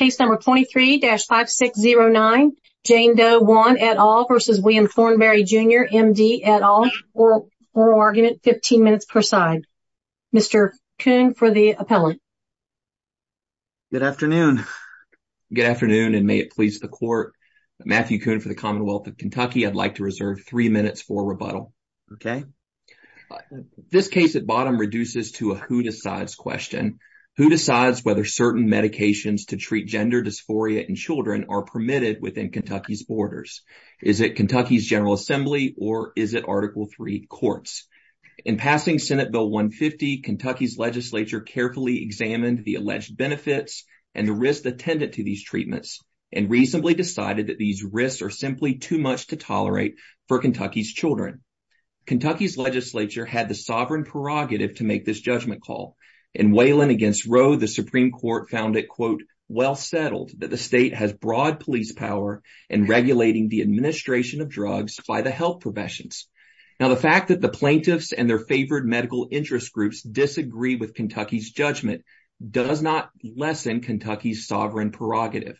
M.D. et al oral argument, 15 minutes per side. Mr. Kuhn for the appellant. Good afternoon. Good afternoon and may it please the court. Matthew Kuhn for the Commonwealth of Kentucky. I'd like to reserve three minutes for rebuttal. Okay. This case at bottom reduces to a who decides question. Who decides whether certain medications to treat gender dysphoria in children are permitted within Kentucky's borders? Is it Kentucky's General Assembly or is it Article III courts? In passing Senate Bill 150, Kentucky's legislature carefully examined the alleged benefits and the risks attendant to these treatments and reasonably decided that these risks are simply too much to tolerate for Kentucky's children. Kentucky's legislature had the sovereign prerogative to make this judgment call. In Wayland against Roe, the Supreme Court found it, quote, well settled that the state has broad police power in regulating the administration of drugs by the health professions. Now, the fact that the plaintiffs and their favored medical interest groups disagree with Kentucky's judgment does not lessen Kentucky's sovereign prerogative.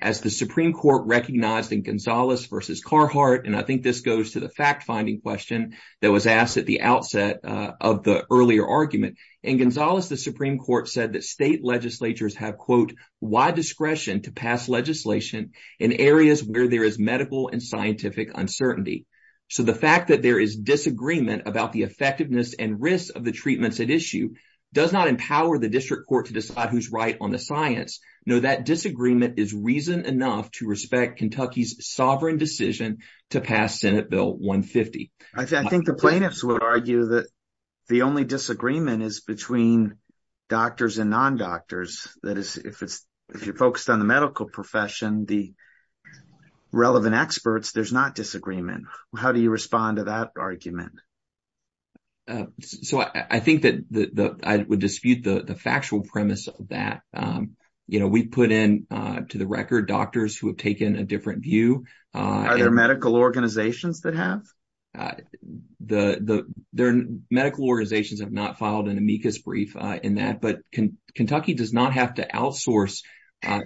As the Supreme Court recognized in Gonzales v. Carhartt, and I think this goes to the fact question that was asked at the outset of the earlier argument. In Gonzales, the Supreme Court said that state legislatures have, quote, wide discretion to pass legislation in areas where there is medical and scientific uncertainty. So the fact that there is disagreement about the effectiveness and risks of the treatments at issue does not empower the district court to decide who's right on the science. No, that disagreement is reason enough to respect Kentucky's sovereign decision to pass Senate Bill 150. I think the plaintiffs would argue that the only disagreement is between doctors and non-doctors. That is, if it's if you're focused on the medical profession, the relevant experts, there's not disagreement. How do you respond to that argument? So I think that I would dispute the factual premise of that. You know, we put in to the Are there medical organizations that have? The medical organizations have not filed an amicus brief in that. But Kentucky does not have to outsource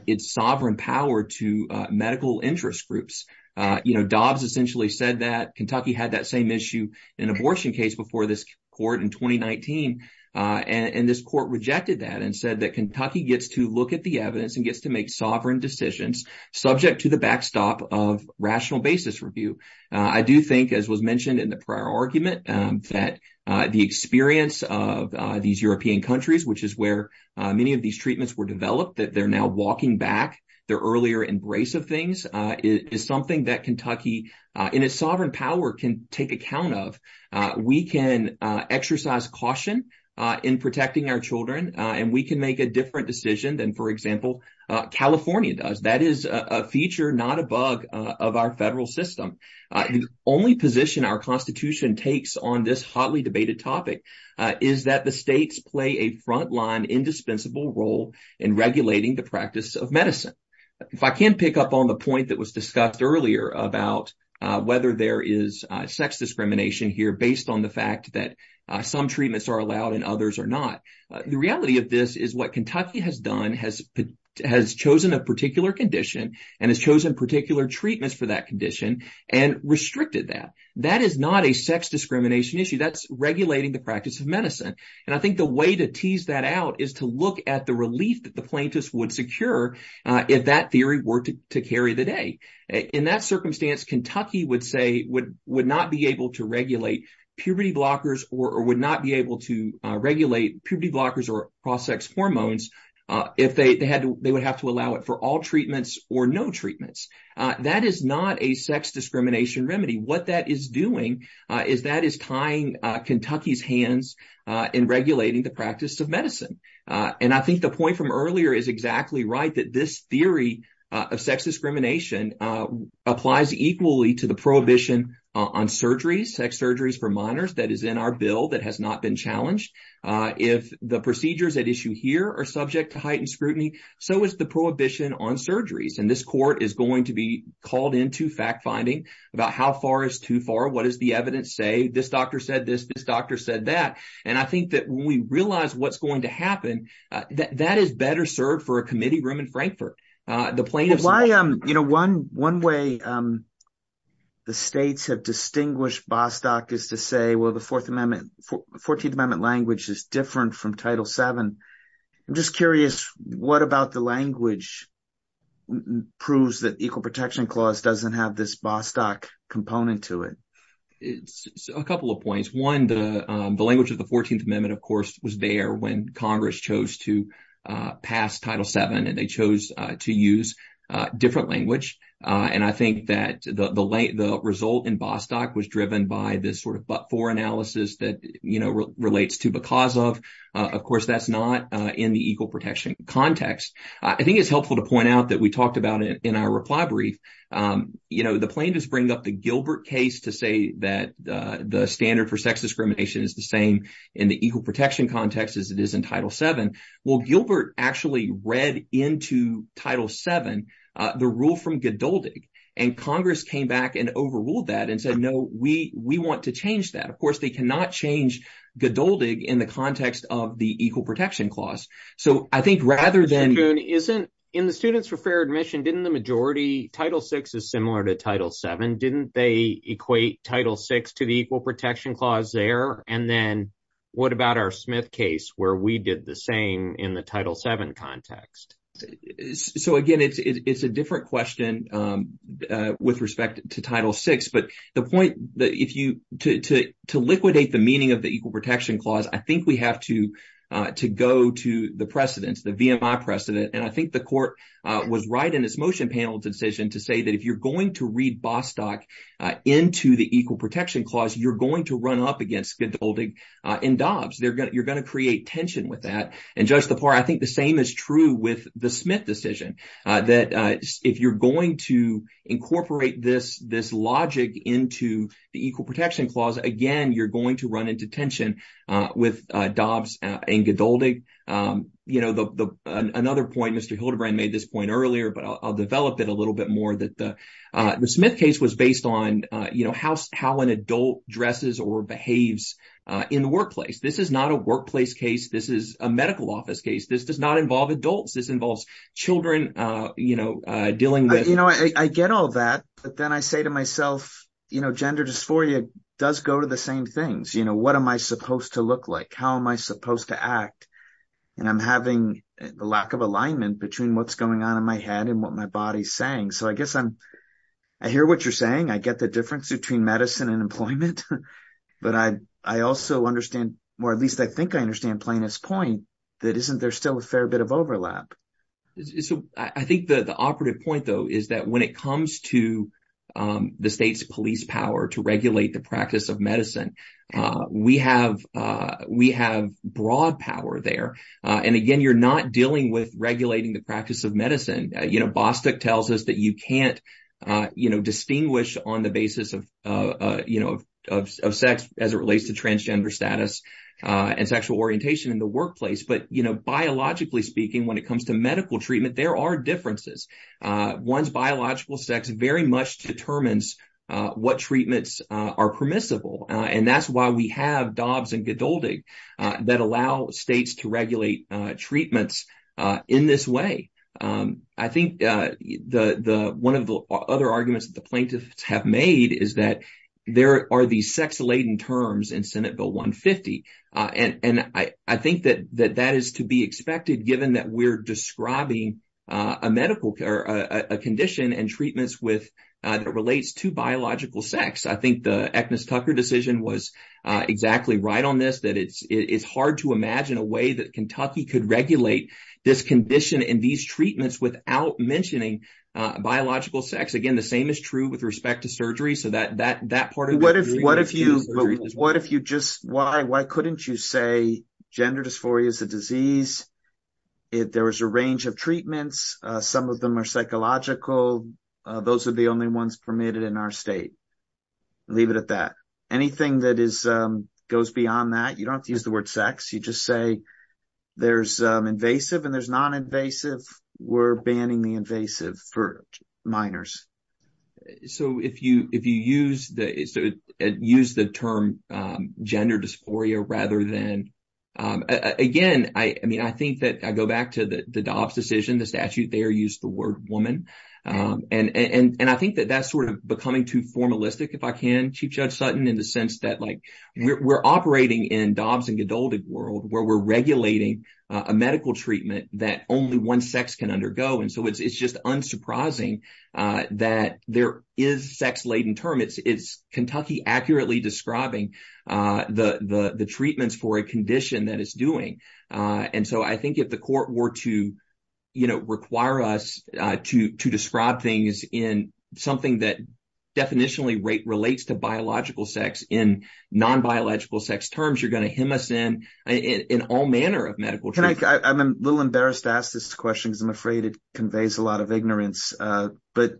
its sovereign power to medical interest groups. You know, Dobbs essentially said that Kentucky had that same issue in an abortion case before this court in 2019. And this court rejected that and said that Kentucky gets to look at the evidence and gets to make sovereign decisions subject to the backstop of rational basis review. I do think, as was mentioned in the prior argument, that the experience of these European countries, which is where many of these treatments were developed, that they're now walking back their earlier embrace of things, is something that Kentucky in its sovereign power can take account of. We can exercise caution in protecting our and we can make a different decision than, for example, California does. That is a feature, not a bug, of our federal system. The only position our Constitution takes on this hotly debated topic is that the states play a frontline, indispensable role in regulating the practice of medicine. If I can pick up on the point that was discussed earlier about whether there is sex discrimination here based on the fact that some treatments are allowed and others are not, the reality of this is what Kentucky has done has chosen a particular condition and has chosen particular treatments for that condition and restricted that. That is not a sex discrimination issue. That's regulating the practice of medicine. And I think the way to tease that out is to look at the relief that the plaintiffs would secure if that theory were to carry the day. In that circumstance, Kentucky would not be able to regulate puberty blockers or would not be able to regulate puberty blockers or cross-sex hormones if they would have to allow it for all treatments or no treatments. That is not a sex discrimination remedy. What that is doing is tying Kentucky's hands in regulating the practice of medicine. And I think the point from earlier is exactly right, that this theory of sex prohibition on sex surgeries for minors that is in our bill that has not been challenged. If the procedures at issue here are subject to heightened scrutiny, so is the prohibition on surgeries. And this court is going to be called into fact-finding about how far is too far, what does the evidence say, this doctor said this, this doctor said that. And I think that when we realize what's going to happen, that is better served for a committee room in Frankfurt. One way the states have distinguished Bostock is to say, well, the 14th Amendment language is different from Title VII. I'm just curious, what about the language proves that the Equal Protection Clause doesn't have this Bostock component to it? A couple of points. One, the language of the 14th Amendment, of course, was there when Congress chose to pass Title VII and they chose to use different language. And I think that the result in Bostock was driven by this sort of but-for analysis that relates to because of. Of course, that's not in the equal protection context. I think it's helpful to point out that we talked about it in our reply brief. The plaintiffs bring up the Gilbert case to say that the standard for sex discrimination is the same in the equal protection context as it is in Title VII. Well, Gilbert actually read into Title VII the rule from Gdoldig, and Congress came back and overruled that and said, no, we we want to change that. Of course, they cannot change Gdoldig in the context of the Equal Protection Clause. So I think rather than isn't in the students for fair admission, didn't the majority Title VI is similar to Title VII? Didn't they equate Title VI to the Equal Protection Clause there? And then what about our Smith case where we did the same in the Title VII context? So again, it's a different question with respect to Title VI. But the point that if you to liquidate the meaning of the Equal Protection Clause, I think we have to to go to the precedents, the VMI precedent. And I think the court was right in its motion panel decision to say that if you're going to read Bostock into the Equal Protection Clause, you're going to run up against Gdoldig and Dobbs. You're going to create tension with that. And Judge Lepore, I think the same is true with the Smith decision, that if you're going to incorporate this this logic into the Equal Protection Clause, again, you're going to run into tension with Dobbs and Gdoldig. You know, another point, Mr. Hildebrand made this point earlier, but I'll develop it a little bit more, that the Smith case was based on, you know, how an adult dresses or behaves in the workplace. This is not a workplace case. This is a medical office case. This does not involve adults. This involves children, you know, dealing with... You know, I get all that. But then I say to myself, you know, gender dysphoria does go to the same things. You know, what am I supposed to look like? How am I supposed to act? And I'm having a lack of alignment between what's going on in my head and what my body's saying. So I guess I'm... I hear what you're saying. I get the difference between medicine and employment. But I also understand, or at least I think I understand Plano's point, that isn't there still a fair bit of overlap? So I think the operative point, though, is that when it comes to the state's police power to regulate the practice of medicine, we have broad power there. And again, you're not dealing with regulating the practice of medicine. You know, Bostick tells us that you can't distinguish on the basis of sex as it relates to transgender status and sexual orientation in the workplace. But, you know, biologically speaking, when it comes to medical treatment, there are differences. One's biological sex very much determines what treatments are permissible. And that's why we have Dobbs and Godoldig that allow states to regulate treatments in this way. I think one of the other arguments that the plaintiffs have made is that there are these sex-laden terms in Senate Bill 150. And I think that that is to be expected, given that we're describing a medical... a condition and treatments that relates to biological sex. I think the Agnes Tucker decision was exactly right on this, that it's hard to imagine a way that Kentucky could regulate this condition and these treatments without mentioning biological sex. Again, the same is true with respect to surgery. So that part of... But what if you just... why couldn't you say gender dysphoria is a disease? If there was a range of treatments, some of them are psychological. Those are the only ones permitted in our state. Leave it at that. Anything that goes beyond that, you don't use the word sex. You just say there's invasive and there's non-invasive. We're banning the invasive for minors. So if you use the term gender dysphoria rather than... Again, I mean, I think that I go back to the Dobbs decision, the statute there used the word woman. And I think that that's sort of becoming too formalistic if I can, Chief Judge Sutton, in the sense that we're operating in Dobbs and Godoldig world where we're regulating a medical treatment that only one sex can undergo. And so it's just unsurprising that there is a sex-laden term. It's Kentucky accurately describing the treatments for a condition that it's doing. And so I think if the court were to require us to describe things in something that definitionally relates to biological sex in non-biological sex terms, you're going to hem us in in all manner of medical treatment. I'm a little embarrassed to ask this question because I'm afraid it conveys a lot of ignorance. But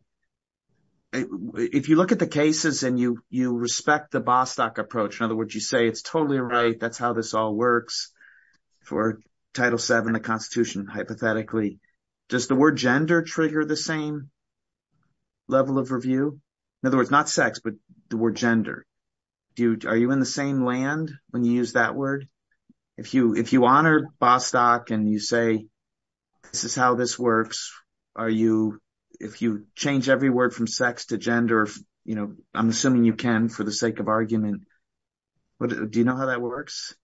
if you look at the cases and you respect the Bostock approach, in other words, you say it's totally right. That's how this all works for Title VII of the Constitution, hypothetically. Does the word gender trigger the same level of review? In other words, not sex, but the word gender. Are you in the same land when you use that word? If you honor Bostock and you say this is how this works, if you change every word from sex to gender, I'm assuming you can for the sake of argument. Do you know how that works?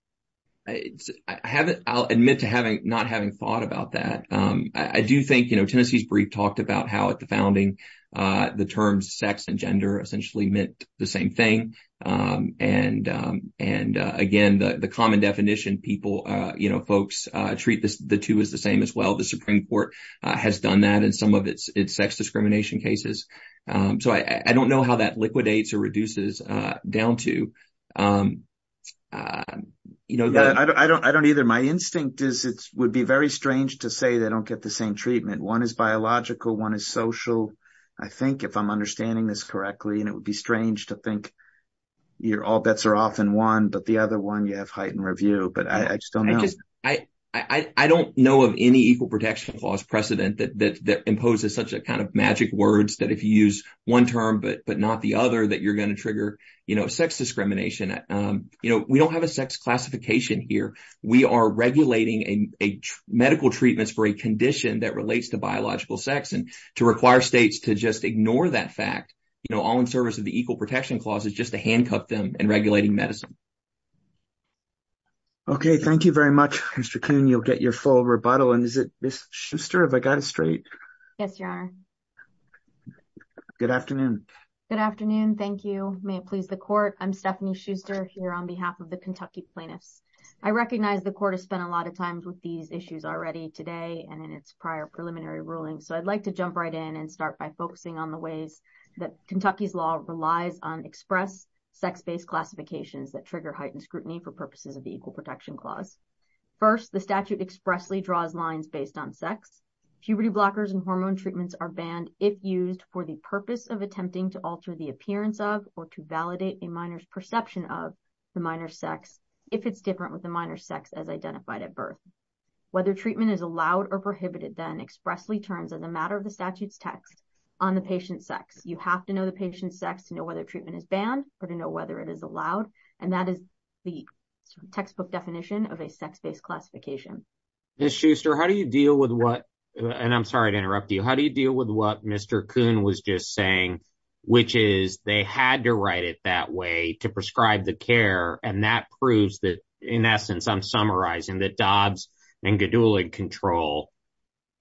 I'll admit to not having thought about that. I do think Tennessee's brief talked about how at the founding, the terms sex and gender meant the same thing. Again, the common definition, folks treat the two as the same as well. The Supreme Court has done that in some of its sex discrimination cases. I don't know how that liquidates or reduces down to. My instinct would be very strange to say they don't get the same It would be strange to think all bets are often won, but the other one you have heightened review. But I just don't know. I don't know of any Equal Protection Clause precedent that imposes such a kind of magic words that if you use one term but not the other that you're going to trigger sex discrimination. We don't have a sex classification here. We are regulating medical treatments for a condition that relates to biological sex and to require states to just ignore that fact. All in service of the Equal Protection Clause is just to handcuff them and regulating medicine. Okay, thank you very much, Mr. Kuhn. You'll get your full rebuttal. And is it Ms. Schuster? Have I got it straight? Yes, your honor. Good afternoon. Good afternoon. Thank you. May it please the court. I'm Stephanie Schuster here on behalf of the Kentucky plaintiffs. I recognize the court has spent a lot of time with these issues already today and in its prior preliminary ruling. So I'd like to jump right in and start by focusing on the ways that Kentucky's law relies on express sex-based classifications that trigger heightened scrutiny for purposes of the Equal Protection Clause. First, the statute expressly draws lines based on sex. Puberty blockers and hormone treatments are banned if used for the purpose of attempting to alter the appearance of or to validate a minor's perception of the minor's sex if it's different with the minor's sex as identified at birth. Whether treatment is allowed or prohibited then expressly turns on the matter of the statute's text on the patient's sex. You have to know the patient's sex to know whether treatment is banned or to know whether it is allowed. And that is the textbook definition of a sex-based classification. Ms. Schuster, how do you deal with what, and I'm sorry to interrupt you, how do you deal with what Mr. Kuhn was just saying, which is they had to write it that way to prescribe the care and that proves that, in essence, I'm summarizing that Dobbs and Gedulig control.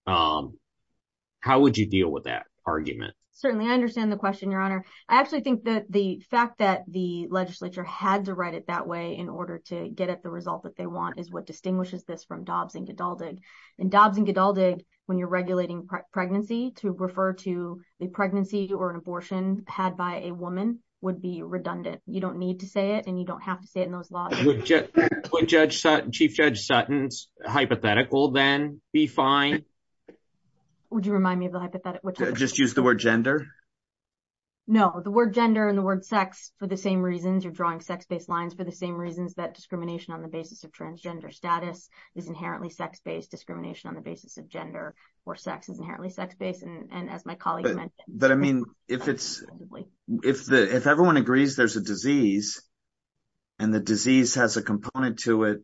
How would you deal with that argument? Certainly, I understand the question, Your Honor. I actually think that the fact that the legislature had to write it that way in order to get at the result that they want is what distinguishes this from Dobbs and Gedulig. And Dobbs and Gedulig, when you're regulating pregnancy, to refer to a pregnancy or an abortion had by a woman would be redundant. You don't need to say it and you don't have to say it in those laws. Would Chief Judge Sutton's hypothetical then be fine? Would you remind me of the hypothetical? Just use the word gender? No, the word gender and the word sex, for the same reasons, you're drawing sex-based lines for the same reasons that discrimination on the basis of transgender status is inherently sex-based, discrimination on the basis of gender or sex is inherently sex-based, and as my colleague mentioned. I mean, if everyone agrees there's a disease and the disease has a component to it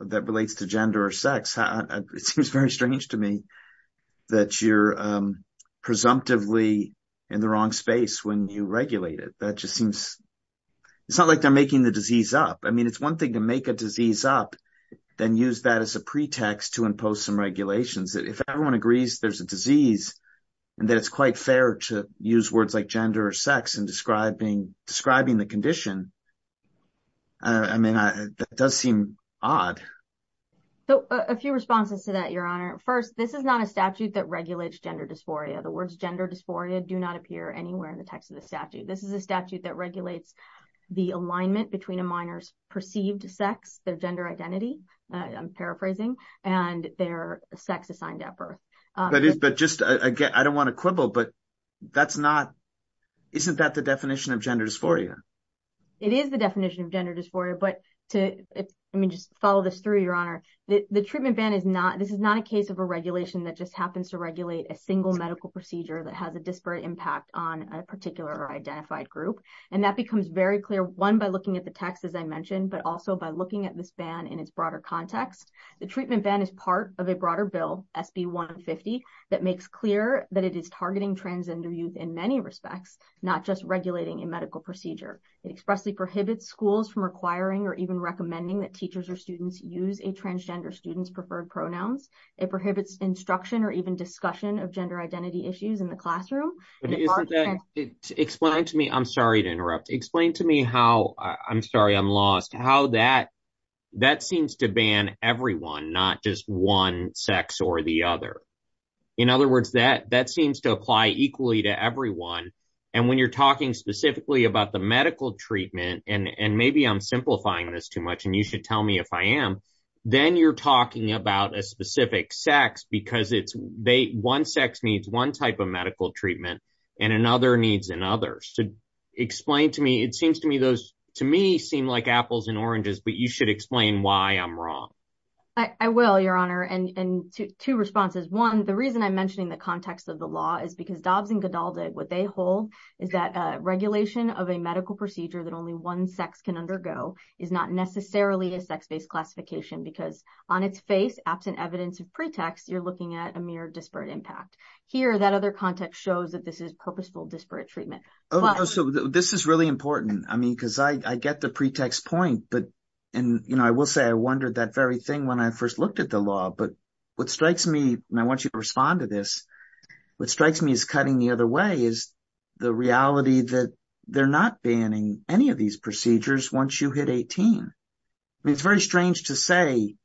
that relates to gender or sex, it seems very strange to me that you're presumptively in the wrong space when you regulate it. It's not like they're making the disease up. I mean, it's one thing to make a disease up, then use that as a pretext to impose some regulations. If everyone agrees there's a disease and that it's quite fair to use words like gender or sex in describing the condition, I mean, that does seem odd. So, a few responses to that, Your Honor. First, this is not a statute that regulates gender dysphoria. The words gender dysphoria do not appear anywhere in the text of the statute. This is a statute that regulates the alignment between a minor's perceived sex, their gender identity, I'm paraphrasing, and their sex assigned at birth. That is, but just again, I don't want to quibble, but that's not, isn't that the definition of gender dysphoria? It is the definition of gender dysphoria, but to, I mean, just follow this through, Your Honor. The treatment ban is not, this is not a case of a regulation that just happens to regulate a single medical procedure that has a disparate impact on a particular identified group, and that becomes very clear, one, by looking at the text, but also by looking at this ban in its broader context. The treatment ban is part of a broader bill, SB 150, that makes clear that it is targeting transgender youth in many respects, not just regulating a medical procedure. It expressly prohibits schools from requiring or even recommending that teachers or students use a transgender student's preferred pronouns. It prohibits instruction or even discussion of gender identity issues in the classroom. But isn't that, explain to me, I'm sorry to interrupt, explain to me how, I'm sorry, I'm lost, how that seems to ban everyone, not just one sex or the other. In other words, that seems to apply equally to everyone, and when you're talking specifically about the medical treatment, and maybe I'm simplifying this too much, and you should tell me if I am, then you're talking about a specific sex, because it's, one sex needs one type of medical treatment, and another needs another. So explain to me, it seems to me those, to me, seem like apples and oranges, but you should explain why I'm wrong. I will, your honor, and two responses. One, the reason I'm mentioning the context of the law is because Dobbs and Gadaldig, what they hold is that regulation of a medical procedure that only one sex can undergo is not necessarily a sex-based classification, because on its face, absent evidence of pretext, you're looking at a mere disparate impact. Here, that other context shows that this is purposeful disparate treatment. Oh, so this is really important, I mean, because I get the pretext point, but, and, you know, I will say I wondered that very thing when I first looked at the law, but what strikes me, and I want you to respond to this, what strikes me as cutting the other way is the reality that they're not banning any of these procedures once you hit 18. I mean, it's very strange to say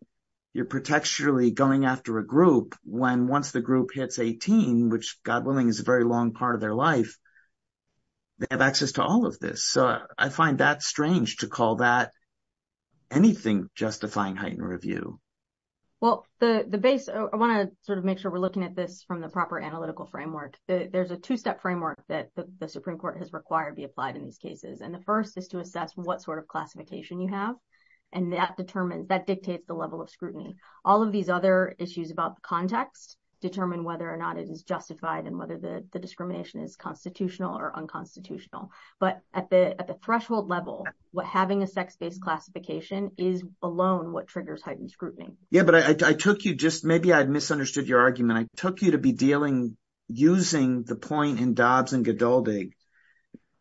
you're protecturally going after a group when, once the group hits 18, which, God willing, is a very long part of their life, they have access to all of this. So I find that strange to call that anything justifying heightened review. Well, the base, I want to sort of make sure we're looking at this from the proper analytical framework. There's a two-step framework that the Supreme Court has required to be applied in these cases, and the first is to assess what sort of classification you have, and that determines, that dictates the level of scrutiny. All of these other issues about the context determine whether or not it is justified and whether the discrimination is constitutional or unconstitutional, but at the threshold level, what having a sex-based classification is alone what triggers heightened scrutiny. Yeah, but I took you just, maybe I misunderstood your argument. I took you to be dealing, using the point in Dobbs and Gadaldig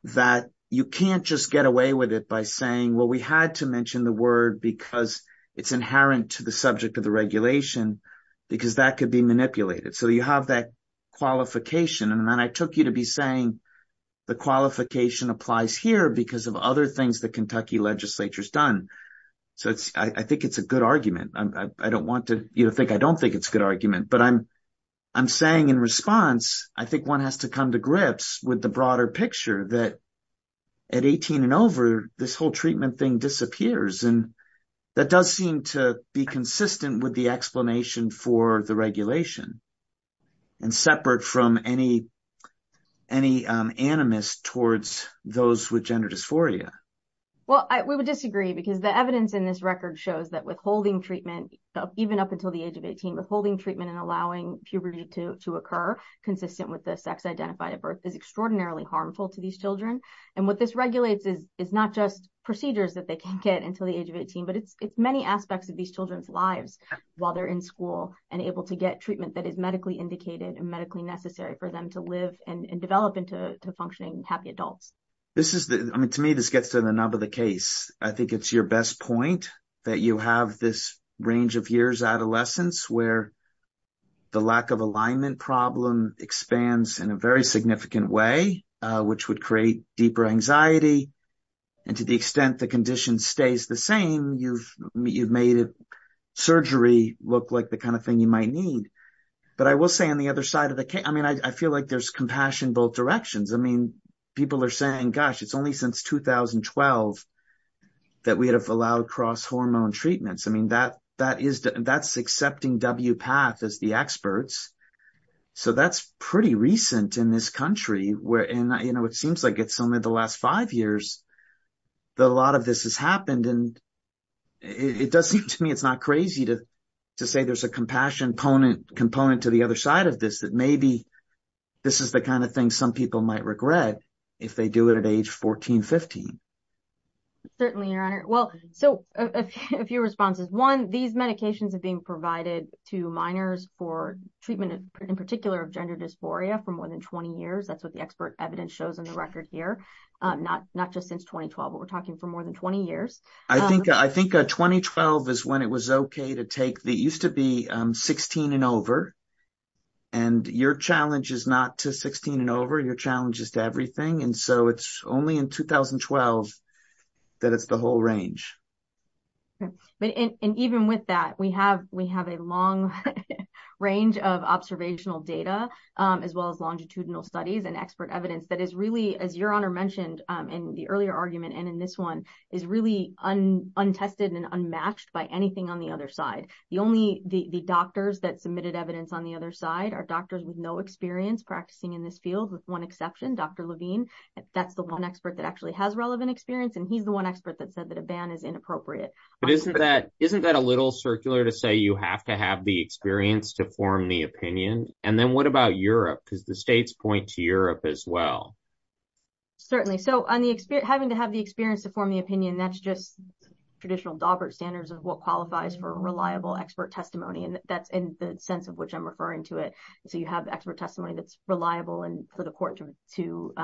that you can't just get away with it by saying, well, we had to mention the word because it's inherent to the subject of the regulation because that could be manipulated. So you have that qualification, and then I took you to be saying the qualification applies here because of other things the Kentucky legislature's done. So I think it's a good argument. I don't want to, you know, I don't think it's a good argument, but I'm saying in response, I think one has to come to grips with the broader picture that at 18 and over, this whole treatment thing disappears, and that does seem to be consistent with the explanation for the regulation and separate from any animus towards those with gender dysphoria. Well, we would disagree because the evidence in shows that withholding treatment, even up until the age of 18, withholding treatment and allowing puberty to occur consistent with the sex identified at birth is extraordinarily harmful to these children. And what this regulates is not just procedures that they can't get until the age of 18, but it's many aspects of these children's lives while they're in school and able to get treatment that is medically indicated and medically necessary for them to live and develop into functioning, happy adults. I mean, to me, this gets to the nub of the case. I think it's your best point that you have this range of years, adolescence, where the lack of alignment problem expands in a very significant way, which would create deeper anxiety. And to the extent the condition stays the same, you've made surgery look like the kind of thing you might need. But I will say on the other side of the case, I mean, I feel like there's compassion both directions. I mean, people are saying, gosh, it's only since 2012 that we have allowed cross hormone treatments. I mean, that's accepting WPATH as the experts. So that's pretty recent in this country. And it seems like it's only the last five years that a lot of this has happened. And it does seem to me, it's not crazy to say there's a component to the other side of this, that maybe this is the kind of thing some people might regret if they do it at age 14, 15. Certainly, your honor. Well, so a few responses. One, these medications are being provided to minors for treatment, in particular, of gender dysphoria for more than 20 years. That's what the expert evidence shows in the record here. Not just since 2012, but we're talking for more than 20 years. I think 2012 is when it was okay to take the used to be 16 and over. And your challenge is not to 16 and over your challenges to everything. And so it's only in 2012, that it's the whole range. And even with that, we have a long range of observational data, as well as longitudinal studies and expert evidence that is really, as your honor mentioned, in the earlier argument, and in this one is really untested and unmatched by anything on the other side. The doctors that submitted evidence on the other side are doctors with no experience practicing in this field, with one exception, Dr. Levine. That's the one expert that actually has relevant experience. And he's the one expert that said that a ban is inappropriate. But isn't that a little circular to say you have to have the experience to form the opinion? And then what about Europe? Because the states point to Europe as well. Certainly. So having to have the experience to form the opinion, that's just traditional Daubert standards of what qualifies for a reliable expert testimony. And that's in the sense of which I'm referring to it. So you have expert testimony that's reliable and for the court to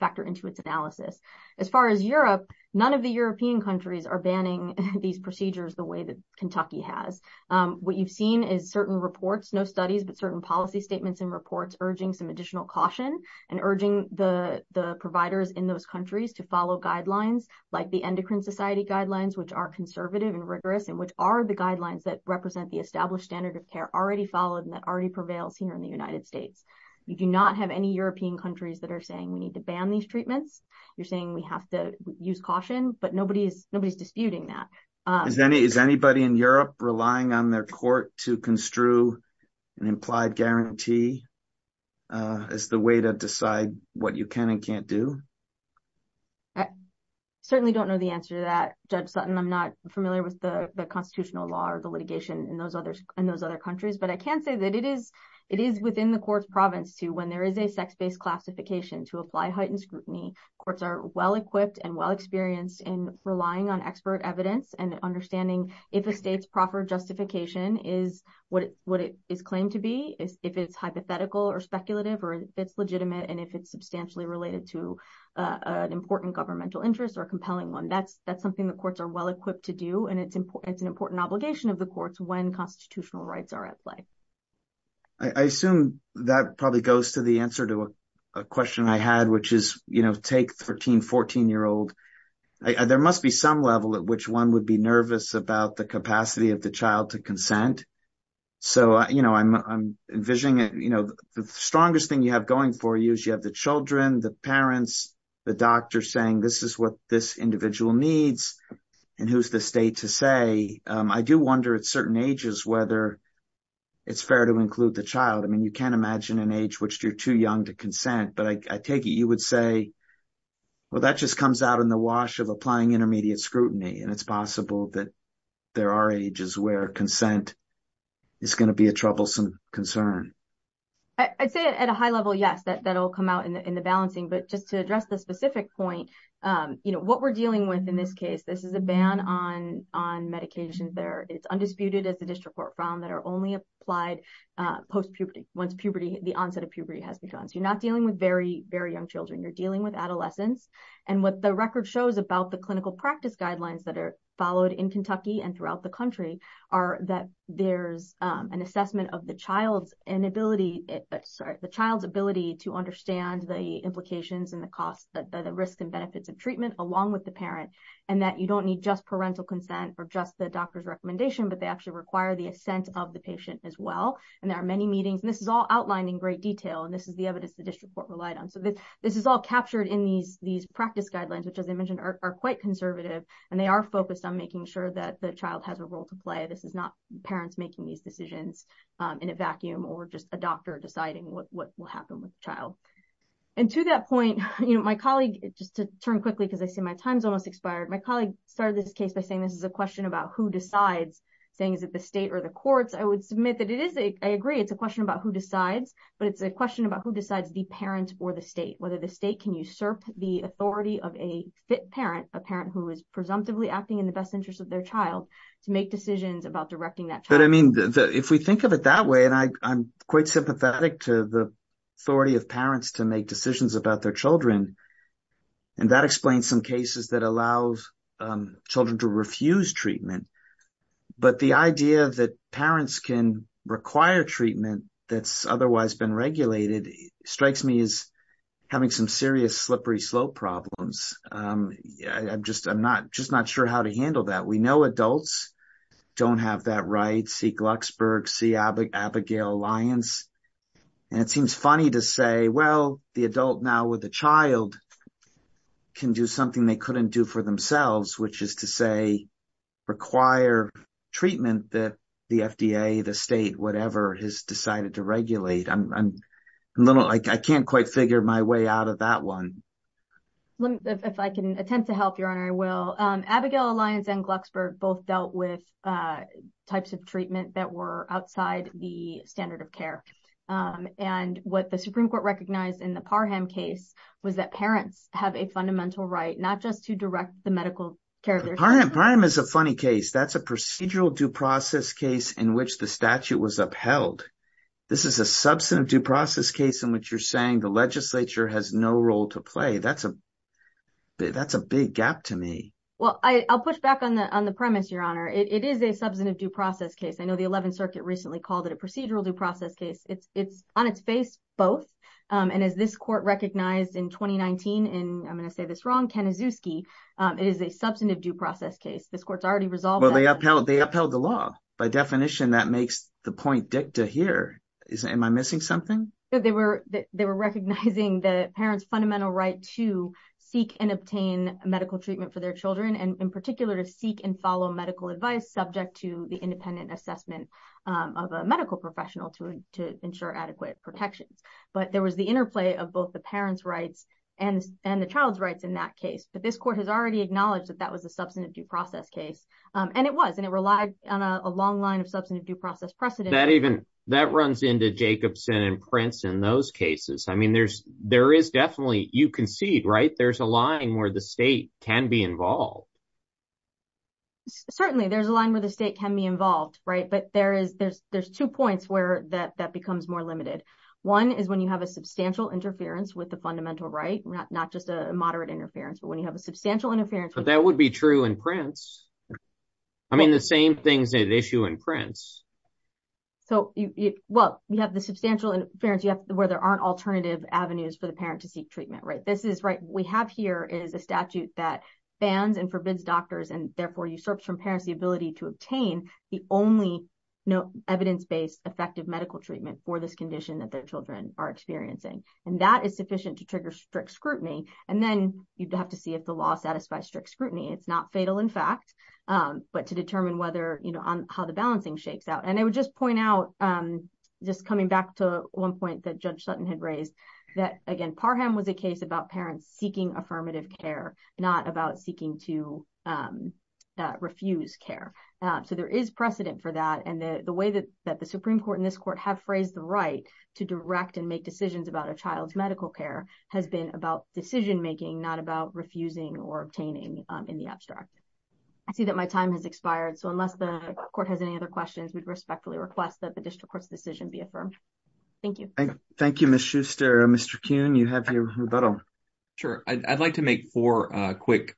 factor into its analysis. As far as Europe, none of the European countries are banning these procedures the way that Kentucky has. What you've seen is certain reports, no studies, but certain policy statements and reports urging some additional caution and urging the providers in those countries to follow guidelines like the endocrine society guidelines, which are conservative and rigorous, and which are the guidelines that represent the established standard of care already followed and that already prevails here in the United States. You do not have any European countries that are saying we need to ban these treatments. You're saying we have to use caution, but nobody's disputing that. Is anybody in Europe relying on their court to construe an implied guarantee as the way to decide what you can and can't do? I certainly don't know the answer to that, Judge Sutton. I'm not familiar with the constitutional law or the litigation in those other countries, but I can say that it is within the court's province to, when there is a sex-based classification, to apply heightened scrutiny. Courts are well-equipped and well-experienced in relying on expert evidence and understanding if a state's proper justification is what it is claimed to be, if it's hypothetical or speculative, or if it's legitimate, and if it's substantially related to an important governmental interest or a compelling one. That's something the courts are well-equipped to do, and it's an important obligation of the courts when constitutional rights are at play. I assume that probably goes to the answer to a question I had, which is take 13, 14-year-old. There must be some level at which one would be nervous about the capacity of the child to consent. The strongest thing you have going for you is you have the children, the parents, the doctor saying, this is what this individual needs, and who's the state to say. I do wonder at certain ages whether it's fair to include the child. You can't imagine an age which you're too young to consent, but I take it you would say, well, that just comes out in the wash of applying intermediate scrutiny, and it's possible that there are ages where consent is going to be a troublesome concern. I'd say at a high level, yes, that'll come out in the balancing, but just to address the specific point, what we're dealing with in this case, this is a ban on medications there. It's undisputed, as the district court found, that are only applied post-puberty, once the onset of puberty has begun. You're not dealing with very, very young children. You're dealing with adolescents, and what the record shows about the clinical practice guidelines that are followed in Kentucky and throughout the country are that there's an assessment of the child's ability to understand the implications and the costs, the risks and benefits of treatment along with the parent, and that you don't need just parental consent or just the doctor's recommendation, but they actually require the assent of the patient as well. There are many meetings, and this is all outlined in great detail, and this is the evidence the district court relied on. This is all captured in these practice guidelines, which, as I mentioned, are quite conservative, and they are focused on making sure that the child has a role to play. This is not parents making these decisions in a vacuum or just a doctor deciding what will happen with the child. To that point, my colleague, just to turn quickly because I see my time's almost expired, my colleague started this case by saying this is a question about who decides, saying, the state or the courts. I would submit that I agree it's a question about who decides, but it's a question about who decides, the parent or the state, whether the state can usurp the authority of a fit parent, a parent who is presumptively acting in the best interest of their child, to make decisions about directing that child. If we think of it that way, and I'm quite sympathetic to the authority of parents to make decisions about their children, and that explains some cases that allow children to refuse treatment, but the idea that parents can require treatment that's otherwise been regulated strikes me as having some serious slippery slope problems. I'm just not sure how to handle that. We know adults don't have that right. See Glucksberg, see Abigail Lyons, and it seems funny to say, well, the adult now with the child can do something they couldn't do for themselves, which is to say, require treatment that the FDA, the state, whatever, has decided to regulate. I can't quite figure my way out of that one. If I can attempt to help, Your Honor, I will. Abigail Lyons and Glucksberg both dealt with types of treatment that were outside the standard of care. What the Supreme Court recognized in the Parham case was that parents have a fundamental right, not just to direct the medical care. Parham is a funny case. That's a procedural due process case in which the statute was upheld. This is a substantive due process case in which you're saying the legislature has no role to play. That's a big gap to me. Well, I'll push back on the premise, Your Honor. It is a substantive due process case. I know the it's on its face, both. As this court recognized in 2019 in, I'm going to say this wrong, Kanazuski, it is a substantive due process case. This court's already resolved that. They upheld the law. By definition, that makes the point dicta here. Am I missing something? They were recognizing the parents' fundamental right to seek and obtain medical treatment for their children, and in particular, to seek and follow medical advice subject to the independent assessment of a medical professional to ensure adequate protections. But there was the interplay of both the parents' rights and the child's rights in that case. But this court has already acknowledged that that was a substantive due process case, and it was, and it relied on a long line of substantive due process precedent. That even, that runs into Jacobson and Prince in those cases. I mean, there is definitely, you concede, right? There's a line where the state can be involved. Certainly, there's a line where the state can be involved, right? But there's two points where that becomes more limited. One is when you have a substantial interference with the fundamental right, not just a moderate interference, but when you have a substantial interference. But that would be true in Prince. I mean, the same things that issue in Prince. So, well, you have the substantial interference where there aren't alternative avenues for the that bans and forbids doctors and therefore usurps from parents the ability to obtain the only evidence-based effective medical treatment for this condition that their children are experiencing. And that is sufficient to trigger strict scrutiny. And then you'd have to see if the law satisfies strict scrutiny. It's not fatal in fact, but to determine whether, you know, how the balancing shakes out. And I would just point out, just coming back to one point that Judge Sutton had raised, that again, Parham was a case about parents seeking affirmative care, not about seeking to refuse care. So, there is precedent for that. And the way that the Supreme Court and this court have phrased the right to direct and make decisions about a child's medical care has been about decision-making, not about refusing or obtaining in the abstract. I see that my time has expired. So, unless the court has any other questions, we'd respectfully request that the district court's decision be affirmed. Thank you. Thank you, Ms. Schuster. Mr. Kuhn, you have your rebuttal. Sure. I'd like to make four quick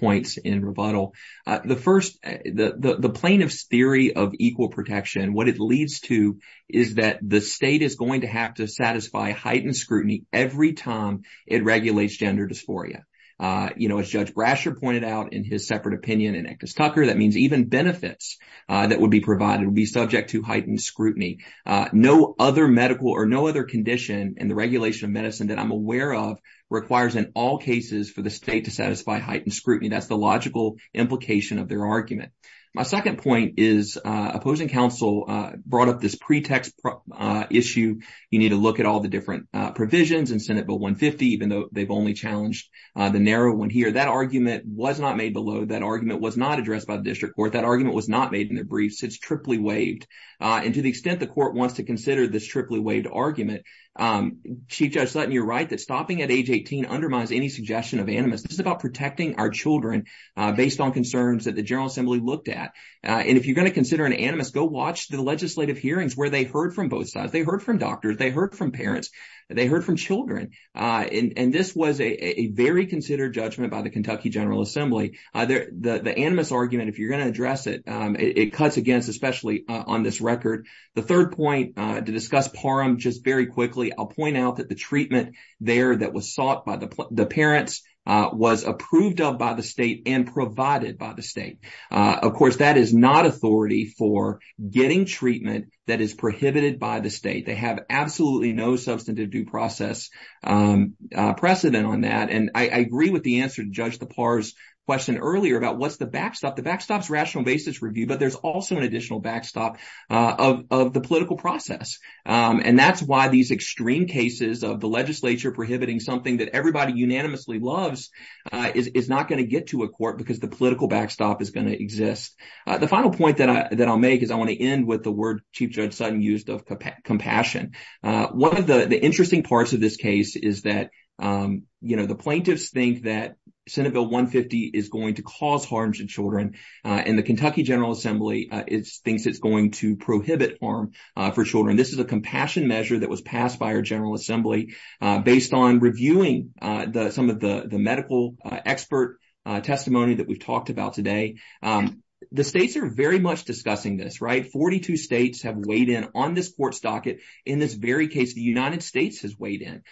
points in rebuttal. The plaintiff's theory of equal protection, what it leads to is that the state is going to have to satisfy heightened scrutiny every time it regulates gender dysphoria. You know, as Judge Brasher pointed out in his separate opinion in Actus Tucker, that means even benefits that would be provided would be subject to heightened scrutiny. No other medical or no other condition in the regulation of medicine that I'm aware of requires in all cases for the state to satisfy heightened scrutiny. That's the logical implication of their argument. My second point is opposing counsel brought up this pretext issue. You need to look at all the different provisions in Senate Bill 150, even though they've only challenged the narrow one here. That argument was not made below. That argument was not addressed by the district court. That argument was not made in the briefs. It's triply waived. And to the extent the court wants to consider this triply waived argument, Chief Judge Sutton, you're right that stopping at age 18 undermines any suggestion of animus. This is about protecting our children based on concerns that the General Assembly looked at. And if you're going to consider an animus, go watch the legislative hearings where they heard from both sides. They heard from doctors. They heard from parents. They heard from children. And this was a very considered judgment by the Kentucky General Assembly. The animus argument, if you're going to address it, it cuts against, especially on this record. The third point to discuss PARM, just very quickly, I'll point out that the treatment there that was sought by the parents was approved of by the state and provided by the state. Of course, that is not authority for getting treatment that is prohibited by the state. They have absolutely no substantive due process precedent on that. And I agree with the answer to Judge DePauw's question earlier about what's the backstop. The backstop's rational basis review, but there's also an additional backstop of the political process. And that's why these extreme cases of the legislature prohibiting something that everybody unanimously loves is not going to get to a court because the political backstop is going to exist. The final point that I'll make is I want to end with the word Chief Judge Sutton used of compassion. One of the interesting parts of this case is that the plaintiffs think that Senate Bill 150 is going to cause harm to children. And the Kentucky General Assembly thinks it's to prohibit harm for children. This is a compassion measure that was passed by our General Assembly based on reviewing some of the medical expert testimony that we've talked about today. The states are very much discussing this, right? 42 states have weighed in on this court's docket. In this very case, the United States has weighed in.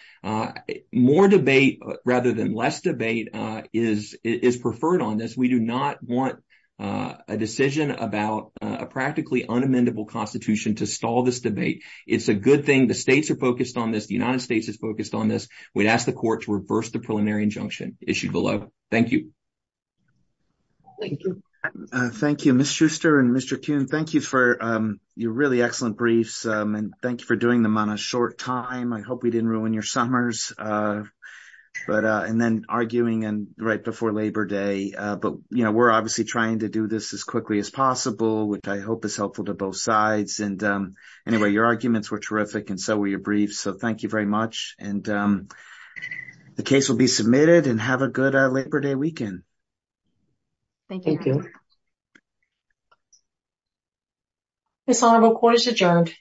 More debate rather than less debate is preferred on this. We do not want a decision about a practically unamendable constitution to stall this debate. It's a good thing the states are focused on this. The United States is focused on this. We'd ask the court to reverse the preliminary injunction issued below. Thank you. Thank you. Thank you, Ms. Schuster and Mr. Kuhn. Thank you for your really excellent briefs, and thank you for doing them on a short time. I hope we didn't ruin your summers. And then arguing right before Labor Day. But we're obviously trying to do this as quickly as possible, which I hope is helpful to both sides. Anyway, your arguments were terrific, and so were your briefs, so thank you very much. The case will be submitted, and have a good Labor Day weekend. Thank you. This honorable court is adjourned.